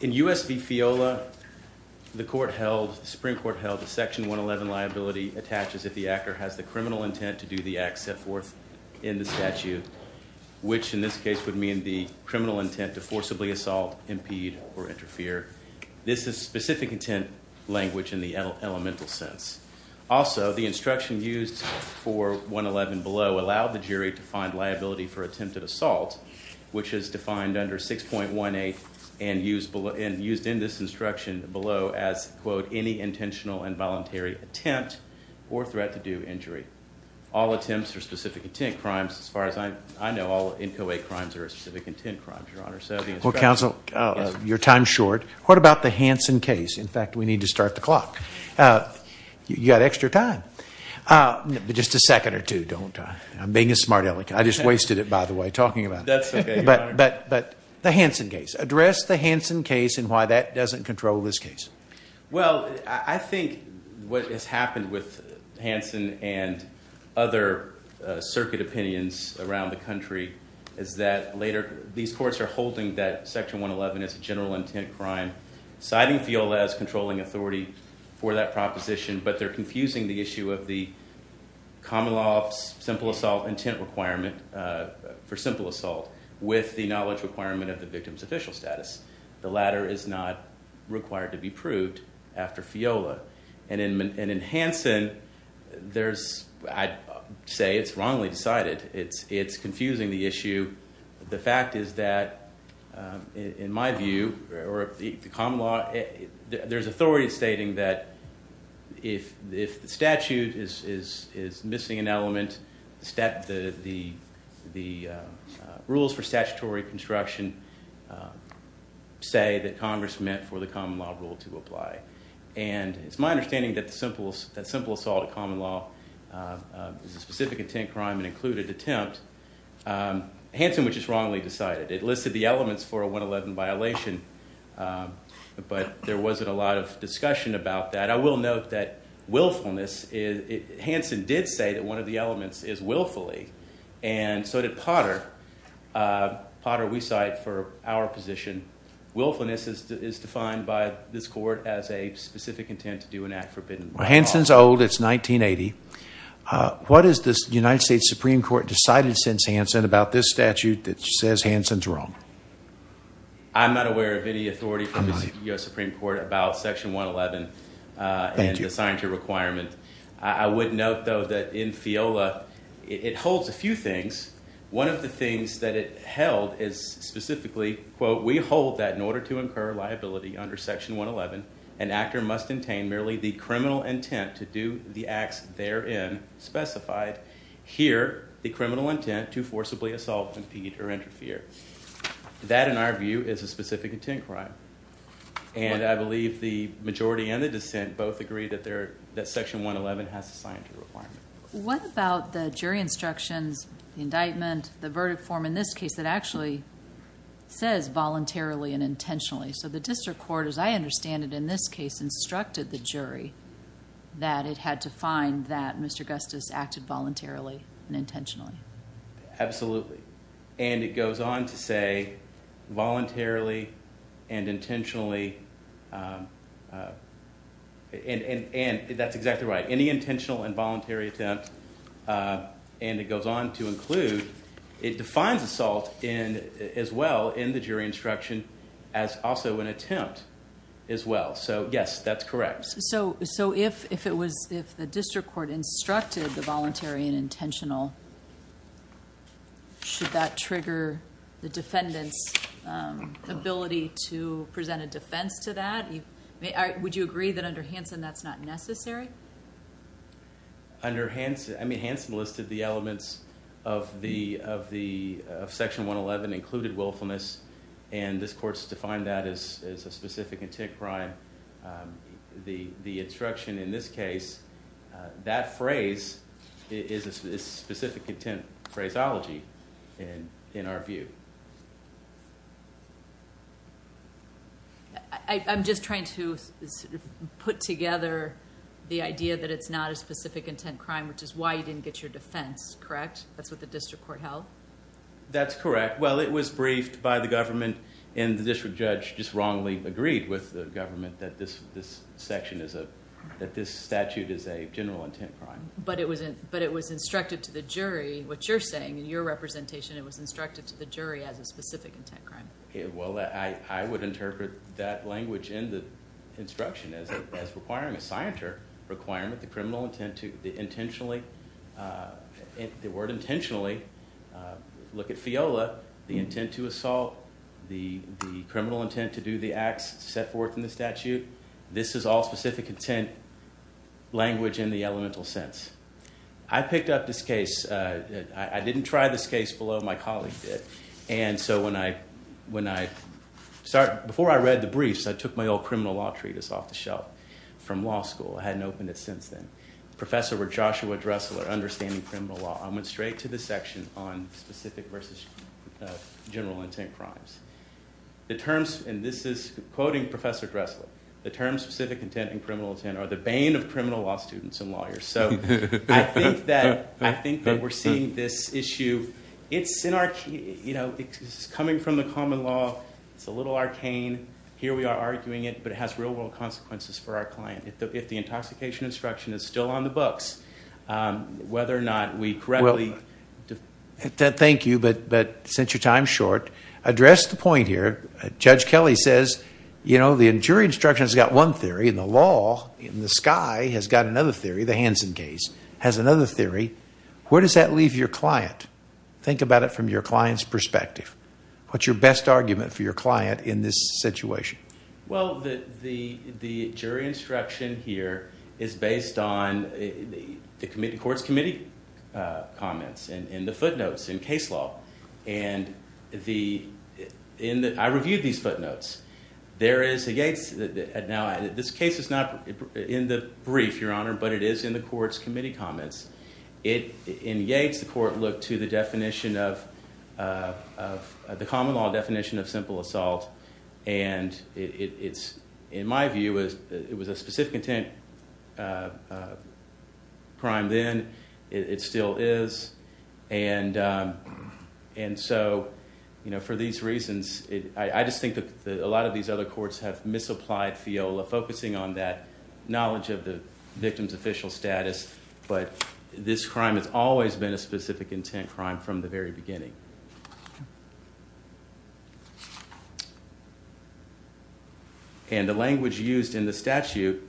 In U.S. v. FIOLA, the Supreme Court held that Section 111 liability attaches if the actor has the criminal intent to do the act set forth in the statute, which in this case would mean the criminal intent to forcibly assault, impede, or interfere. This is specific intent language in the elemental sense. Also, the instruction used for 111 below allowed the used in this instruction below as, quote, any intentional and voluntary attempt or threat to do injury. All attempts are specific intent crimes. As far as I know, all NCOA crimes are specific intent crimes, Your Honor. So the instruction... Well, counsel, your time's short. What about the Hansen case? In fact, we need to start the clock. You got extra time. Just a second or two. Don't... I'm being a smart aleck. I just wasted it, by the way, talking about it. That's okay, Your Honor. But the Hansen case. Address the Hansen case and why that doesn't control this case. Well, I think what has happened with Hansen and other circuit opinions around the country is that later these courts are holding that Section 111 is a general intent crime, citing FIOLA as controlling authority for that proposition, but they're confusing the issue of the common law simple assault intent requirement for simple assault with the knowledge requirement of the victim's official status. The latter is not required to be proved after FIOLA. And in Hansen, there's... I'd say it's wrongly decided. It's confusing the issue. The fact is that, in my view, or the common law, there's authority stating that if the statute is missing an element, the rules for statutory construction say that Congress meant for the common law rule to apply. And it's my understanding that simple assault of common law is a specific intent crime and included attempt. Hansen was just wrongly decided. It listed the elements for a 111 violation, but there wasn't a lot of discussion about that. I will note that willfulness... Hansen did say that one of the elements is willfully, and so did Potter. Potter, we cite for our position. Willfulness is defined by this court as a specific intent to do an act forbidden by law. Well, Hansen's old. It's 1980. What has the United States Supreme Court decided since Hansen about this statute that says Hansen's wrong? I'm not aware of any authority from the U.S. Supreme Court about Section 111 and the scientific requirement. I would note, though, that in FIOLA, it holds a few things. One of the things that it held is specifically, quote, we hold that in order to incur liability under Section 111, an actor must attain merely the criminal intent to do the acts therein specified. Here, the criminal intent to forcibly assault, impede, or interfere. That, in our view, is a specific intent crime. I believe the majority and the dissent both agree that Section 111 has a scientific requirement. What about the jury instructions, the indictment, the verdict form in this case that actually says voluntarily and intentionally? The district court, as I understand it in this case, instructed the jury that it had to find that Mr. Gustis acted voluntarily and intentionally. Absolutely. It goes on to say voluntarily and intentionally. That's exactly right. Any intentional and voluntary attempt, and it goes on to include, it defines assault as well in the jury instruction as also an attempt as well. Yes, that's correct. If the district court instructed the voluntary and intentional, should that trigger the defendant's ability to present a defense to that? Would you agree that under Hansen that's not necessary? Under Hansen, Hansen listed the elements of Section 111 included willfulness, and this instruction in this case, that phrase is a specific intent phraseology in our view. I'm just trying to put together the idea that it's not a specific intent crime, which is why you didn't get your defense, correct? That's what the district court held? That's correct. It was briefed by the government, and the district judge just wrongly agreed with the government that this section is a, that this statute is a general intent crime. But it was instructed to the jury, what you're saying, in your representation, it was instructed to the jury as a specific intent crime. Well, I would interpret that language in the instruction as requiring a scienter requirement the criminal intent to intentionally, the word intentionally, look at FIOLA, the intent to assault, the criminal intent to do the acts set forth in the statute. This is all specific intent language in the elemental sense. I picked up this case, I didn't try this case below, my colleague did, and so when I, when I, before I read the briefs, I took my old criminal law treatise off the shelf from law school. I hadn't opened it since then. Professor with Joshua Dressler, Understanding Criminal Law, I went straight to the section on specific versus general intent crimes. The terms, and this is quoting Professor Dressler, the terms specific intent and criminal intent are the bane of criminal law students and lawyers. So I think that, I think that we're seeing this issue, it's in our, you know, it's coming from the common law, it's a little arcane, here we are arguing it, but it has real world consequences for our client. If the intoxication instruction is still on the books, whether or not we correctly... Well, thank you, but since your time is short, address the point here, Judge Kelly says, you know, the jury instruction has got one theory and the law in the sky has got another theory, the Hansen case has another theory. Where does that leave your client? Think about it from your client's perspective. What's your best argument for your client in this situation? Well, the jury instruction here is based on the court's committee comments and the footnotes in case law, and I reviewed these footnotes. There is a Yates, now this case is not in the brief, Your Honor, but it is in the court's committee comments. In Yates, the court looked to the definition of... the common law definition of simple assault, and it's, in my view, it was a specific intent crime then, it still is, and so, you know, for these reasons, I just think that a lot of these other courts have misapplied FIOLA, focusing on that knowledge of the victim's official status, but this crime has always been a specific intent crime from the very beginning. And the language used in the statute,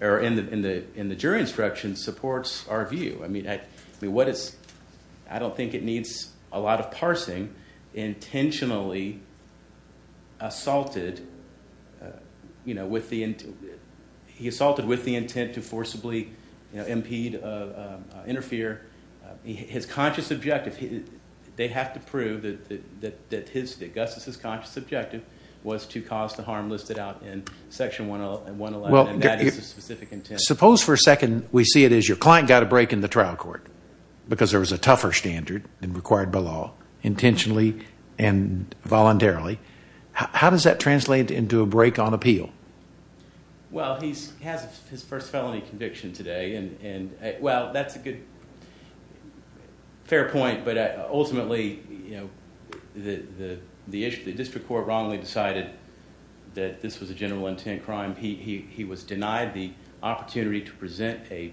or in the jury instruction, supports our view. I mean, what is... I don't think it needs a lot of parsing. Intentionally assaulted, you know, with the... he assaulted with the intent to forcibly, you know, impede, interfere. His conscious objective, they have to prove that Augustus' conscious objective was to cause the harm listed out in Section 111, and that is a specific intent. Suppose for a second we see it as your client got a break in the trial court because there was a tougher standard than required by law, intentionally and voluntarily. How does that translate into a break on appeal? Well, he has his first felony conviction today, and, well, that's a good, fair point, but ultimately, you know, the issue... the district court wrongly decided that this was a general intent crime. He was denied the opportunity to present a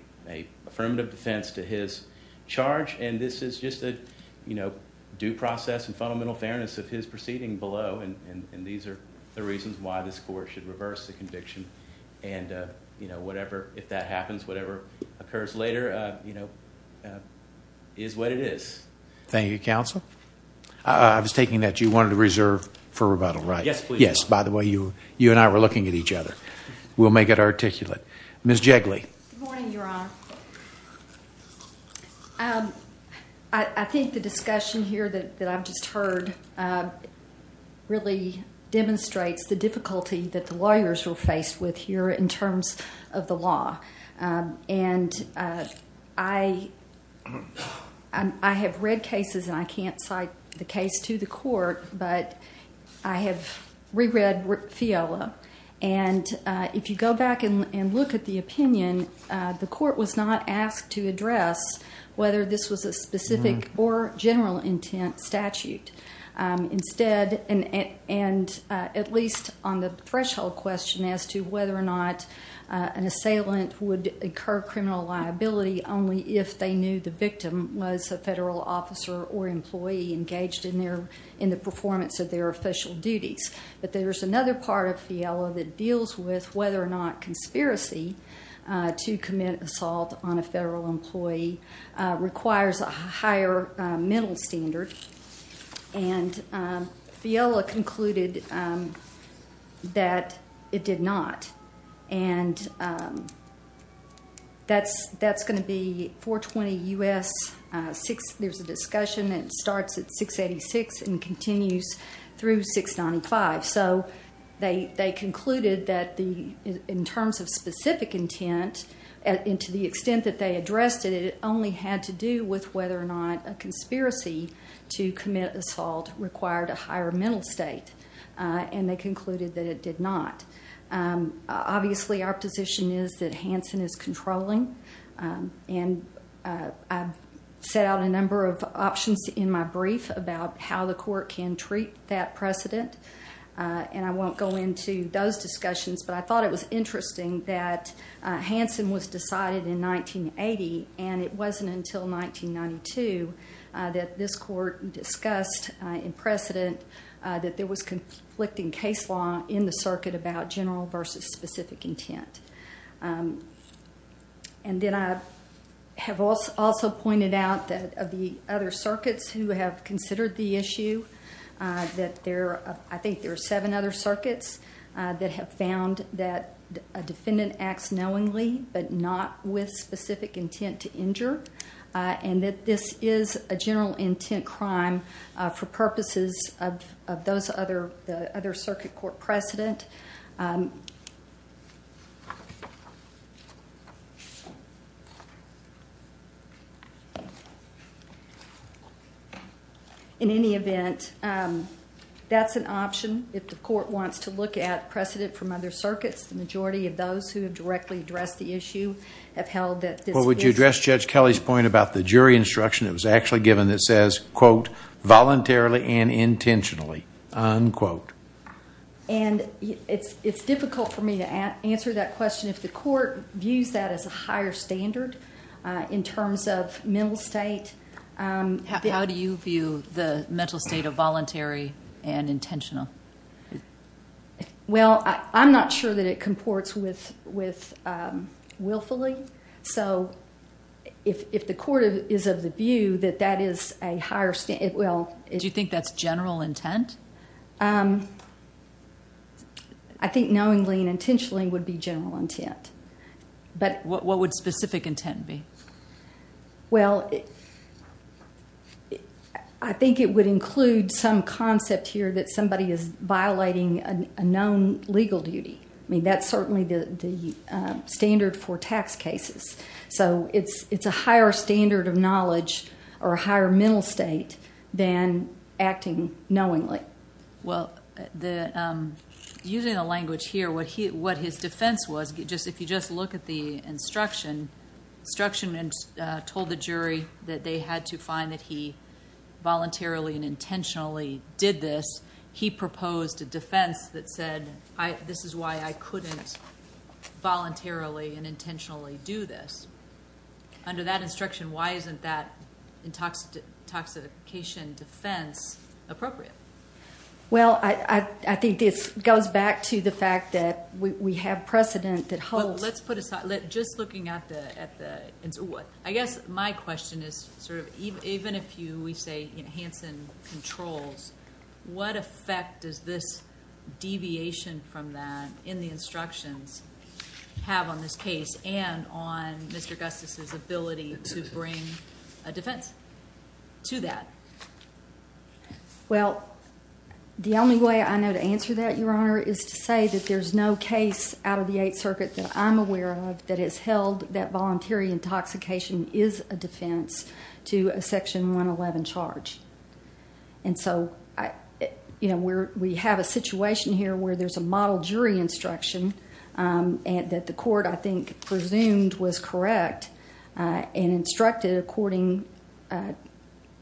affirmative defense to his charge, and this is just a, you know, due process and fundamental fairness of his proceeding below, and these are the reasons why this court should reverse the conviction, and, you know, whatever, if that happens, whatever occurs later, you know, is what it is. Thank you, counsel. I was taking that you wanted to reserve for rebuttal, right? Yes, please. Yes, by the way, you and I were looking at each other. We'll make it articulate. Ms. Jegley. Good morning, Your Honor. I think the discussion here that I've just heard really demonstrates the difficulty that the lawyers were faced with here in terms of the law, and I have read cases, and I can't cite the case to the court, but I have reread FIELA, and if you go back and look at the opinion, the court was not asked to address whether this was a specific or general intent statute. Instead, and at least on the threshold question as to whether or not an assailant would incur criminal liability only if they knew the victim was a federal officer or employee engaged in their, in the performance of their official duties, but there's another part of FIELA that deals with whether or not conspiracy to commit assault on a federal employee requires a higher mental standard, and FIELA concluded that it did not, and that's going to be 420 U.S. 6, there's a discussion that starts at 686 and continues through 695, so they concluded that the, in terms of specific intent, and to the extent that they addressed it, it only had to do with whether or not a conspiracy to commit assault required a higher mental state, and they concluded that it did not. Obviously, our position is that Hansen is controlling, and I've set out a number of options in my brief about how the court can treat that precedent, and I won't go into those in detail, but Hansen was decided in 1980, and it wasn't until 1992 that this court discussed in precedent that there was conflicting case law in the circuit about general versus specific intent, and then I have also pointed out that of the other circuits who have considered the issue, that there are, I think there are seven other circuits that have found that a defendant acts knowingly but not with specific intent to injure, and that this is a general intent crime for purposes of those other, the other circuit court precedent. In any event, that's an option. If the court wants to look at precedent from other circuits, the majority of those who have directly addressed the issue have held that this is... Well, would you address Judge Kelly's point about the jury instruction that was actually given that says, quote, voluntarily and intentionally, unquote. And it's difficult for me to answer that question if the court views that as a higher standard in terms of mental state. How do you view the mental state of voluntary and intentional? Well, I'm not sure that it comports with willfully, so if the court is of the view that that is a higher standard, well... Do you think that's general intent? I think knowingly and intentionally would be general intent, but... What would specific intent be? Well, I think it would include some concept here that somebody is violating a known legal duty. I mean, that's certainly the standard for tax cases, so it's a higher standard of knowledge or a higher mental state than acting knowingly. Well, using the language here, what his defense was, if you just look at the instruction, instruction told the jury that they had to find that he voluntarily and intentionally did this, he proposed a defense that said, this is why I couldn't voluntarily and intentionally do this. Under that instruction, why isn't that intoxication defense appropriate? Well, I think this goes back to the fact that we have precedent that holds... Just looking at the... I guess my question is, even if we say Hanson controls, what effect does this deviation from that in the instructions have on this case and on Mr. Gustafson's ability to bring a defense to that? Well, the only way I know to answer that, Your Honor, is to say that there's no case out of the Eighth Circuit that I'm aware of that has held that voluntary intoxication is a defense to a Section 111 charge. And so, we have a situation here where there's a model jury instruction that the court, I think, presumed was correct and instructed according...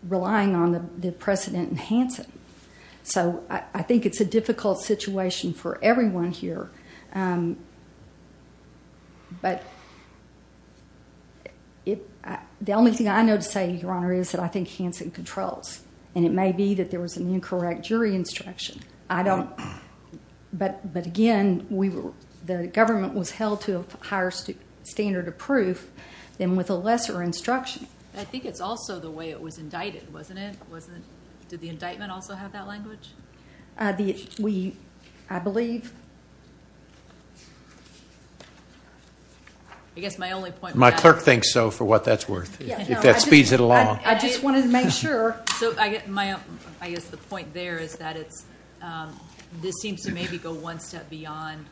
relying on the precedent in Hanson. So, I think it's a difficult situation for everyone here. But the only thing I know to say, Your Honor, is that I think Hanson controls. And it may be that there was an incorrect jury instruction. But again, the government was held to a higher standard of proof than with a lesser instruction. I think it's also the way it was indicted, wasn't it? Did the indictment also have that language? I believe. I guess my only point... My clerk thinks so, for what that's worth. If that speeds it along. I just wanted to make sure. So, I guess the point there is that this seems to maybe go one step beyond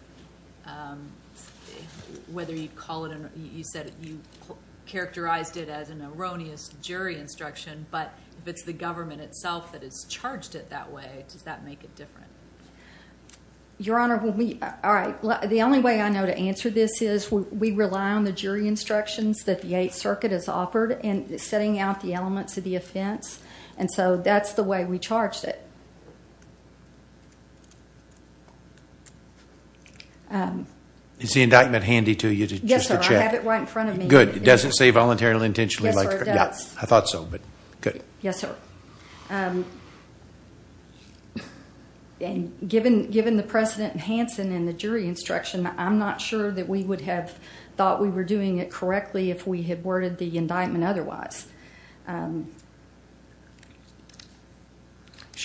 whether you call it... You said you characterized it as an erroneous jury instruction. But if it's the government itself that has charged it that way, does that make it different? Your Honor, when we... All right. The only way I know to answer this is we rely on the jury instructions that the Eighth Circuit has offered in setting out the elements of the offense. And so, that's the way we charged it. Is the indictment handy to you, just to check? Yes, sir. I have it right in front of me. Good. It doesn't say voluntarily, intentionally... Yes, sir, it does. I thought so. Good. Yes, sir. And given the precedent in Hansen and the jury instruction, I'm not sure that we would have thought we were doing it correctly if we had worded the indictment otherwise. So,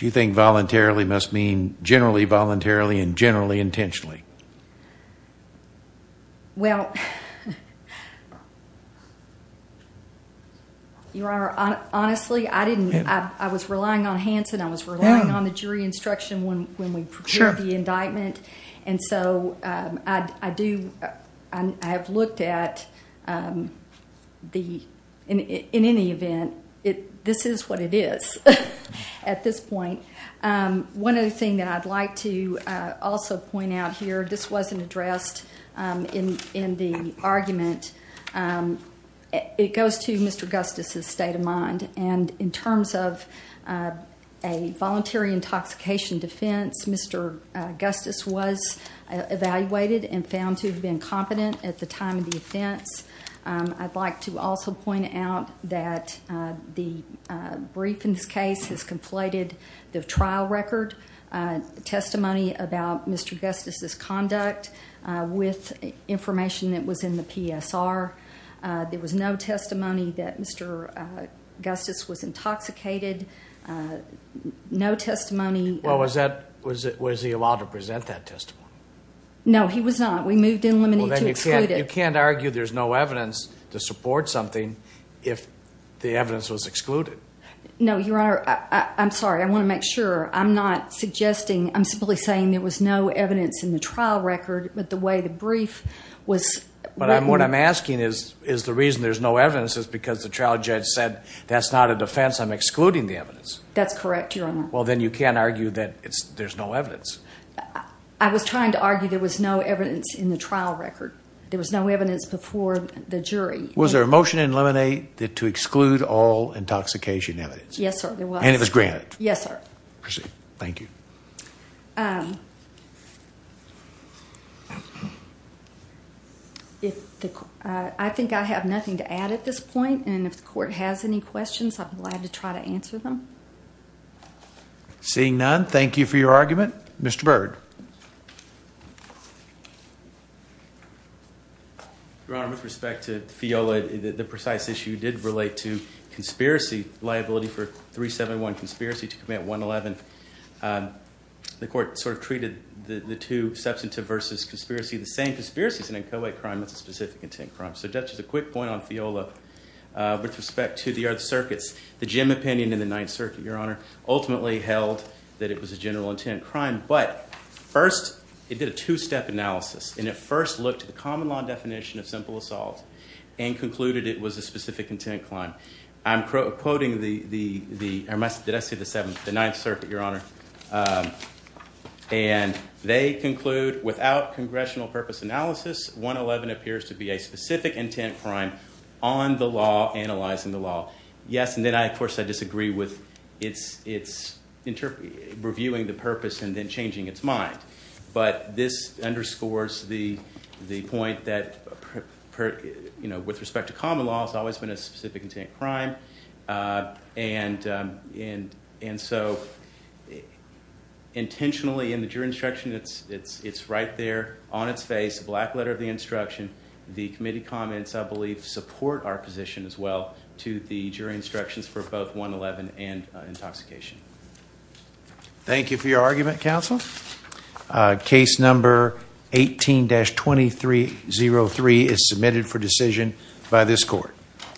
you think voluntarily must mean generally voluntarily and generally intentionally? Well... Your Honor, honestly, I didn't... I was relying on Hansen. I was relying on the jury instruction when we prepared the indictment. And so, I do... I have looked at the... In any event, this is what it is at this point. One other thing that I'd like to also point out here, this wasn't addressed in the argument. It goes to Mr. Gustis' state of mind. And in terms of a voluntary intoxication defense, Mr. Gustis was evaluated and found to have been competent at the time of the offense. I'd like to also point out that the brief in this case has conflated the trial record testimony about Mr. Gustis' conduct with information that was in the PSR. There was no testimony that Mr. Gustis was intoxicated. No testimony... Well, was he allowed to present that testimony? No, he was not. We moved in limine to exclude it. You can't argue there's no evidence to support something if the evidence was excluded. No, Your Honor, I'm sorry. I want to make sure. I'm not suggesting. I'm simply saying there was no evidence in the trial record, but the way the brief was... But what I'm asking is the reason there's no evidence is because the trial judge said that's not a defense. I'm excluding the evidence. That's correct, Your Honor. Well, then you can't argue that there's no evidence. I was trying to argue there was no evidence in the trial record. There was no evidence before the jury. Was there a motion in limine to exclude all intoxication evidence? Yes, sir, there was. And it was granted? Yes, sir. Proceed. Thank you. I think I have nothing to add at this point. And if the court has any questions, I'm glad to try to answer them. Seeing none, thank you for your argument. Mr. Byrd. Your Honor, with respect to Fiola, the precise issue did relate to conspiracy liability for 371 conspiracy to commit 111. The court sort of treated the two, substantive versus conspiracy, the same conspiracy is an inchoate crime. It's a specific intent crime. So just as a quick point on Fiola, with respect to the circuits, the Jim opinion in the Ninth Circuit, Your Honor, ultimately held that it was a general intent crime. But first, it did a two-step analysis. And it first looked at the common law definition of simple assault and concluded it was a specific intent crime. I'm quoting the... Did I say the seventh? The Ninth Circuit, Your Honor. And they conclude, without congressional purpose analysis, 111 appears to be a specific intent crime on the law, analyzing the law. Yes, and then, of course, I disagree with reviewing the purpose and then changing its mind. But this underscores the point that, with respect to common law, it's always been a specific intent crime. And so, intentionally, in the jury instruction, it's right there on its face, the black letter of the instruction. The committee comments, I believe, support our position as well to the jury instructions for both 111 and intoxication. Thank you for your argument, counsel. Case number 18-2303 is submitted for decision by this court.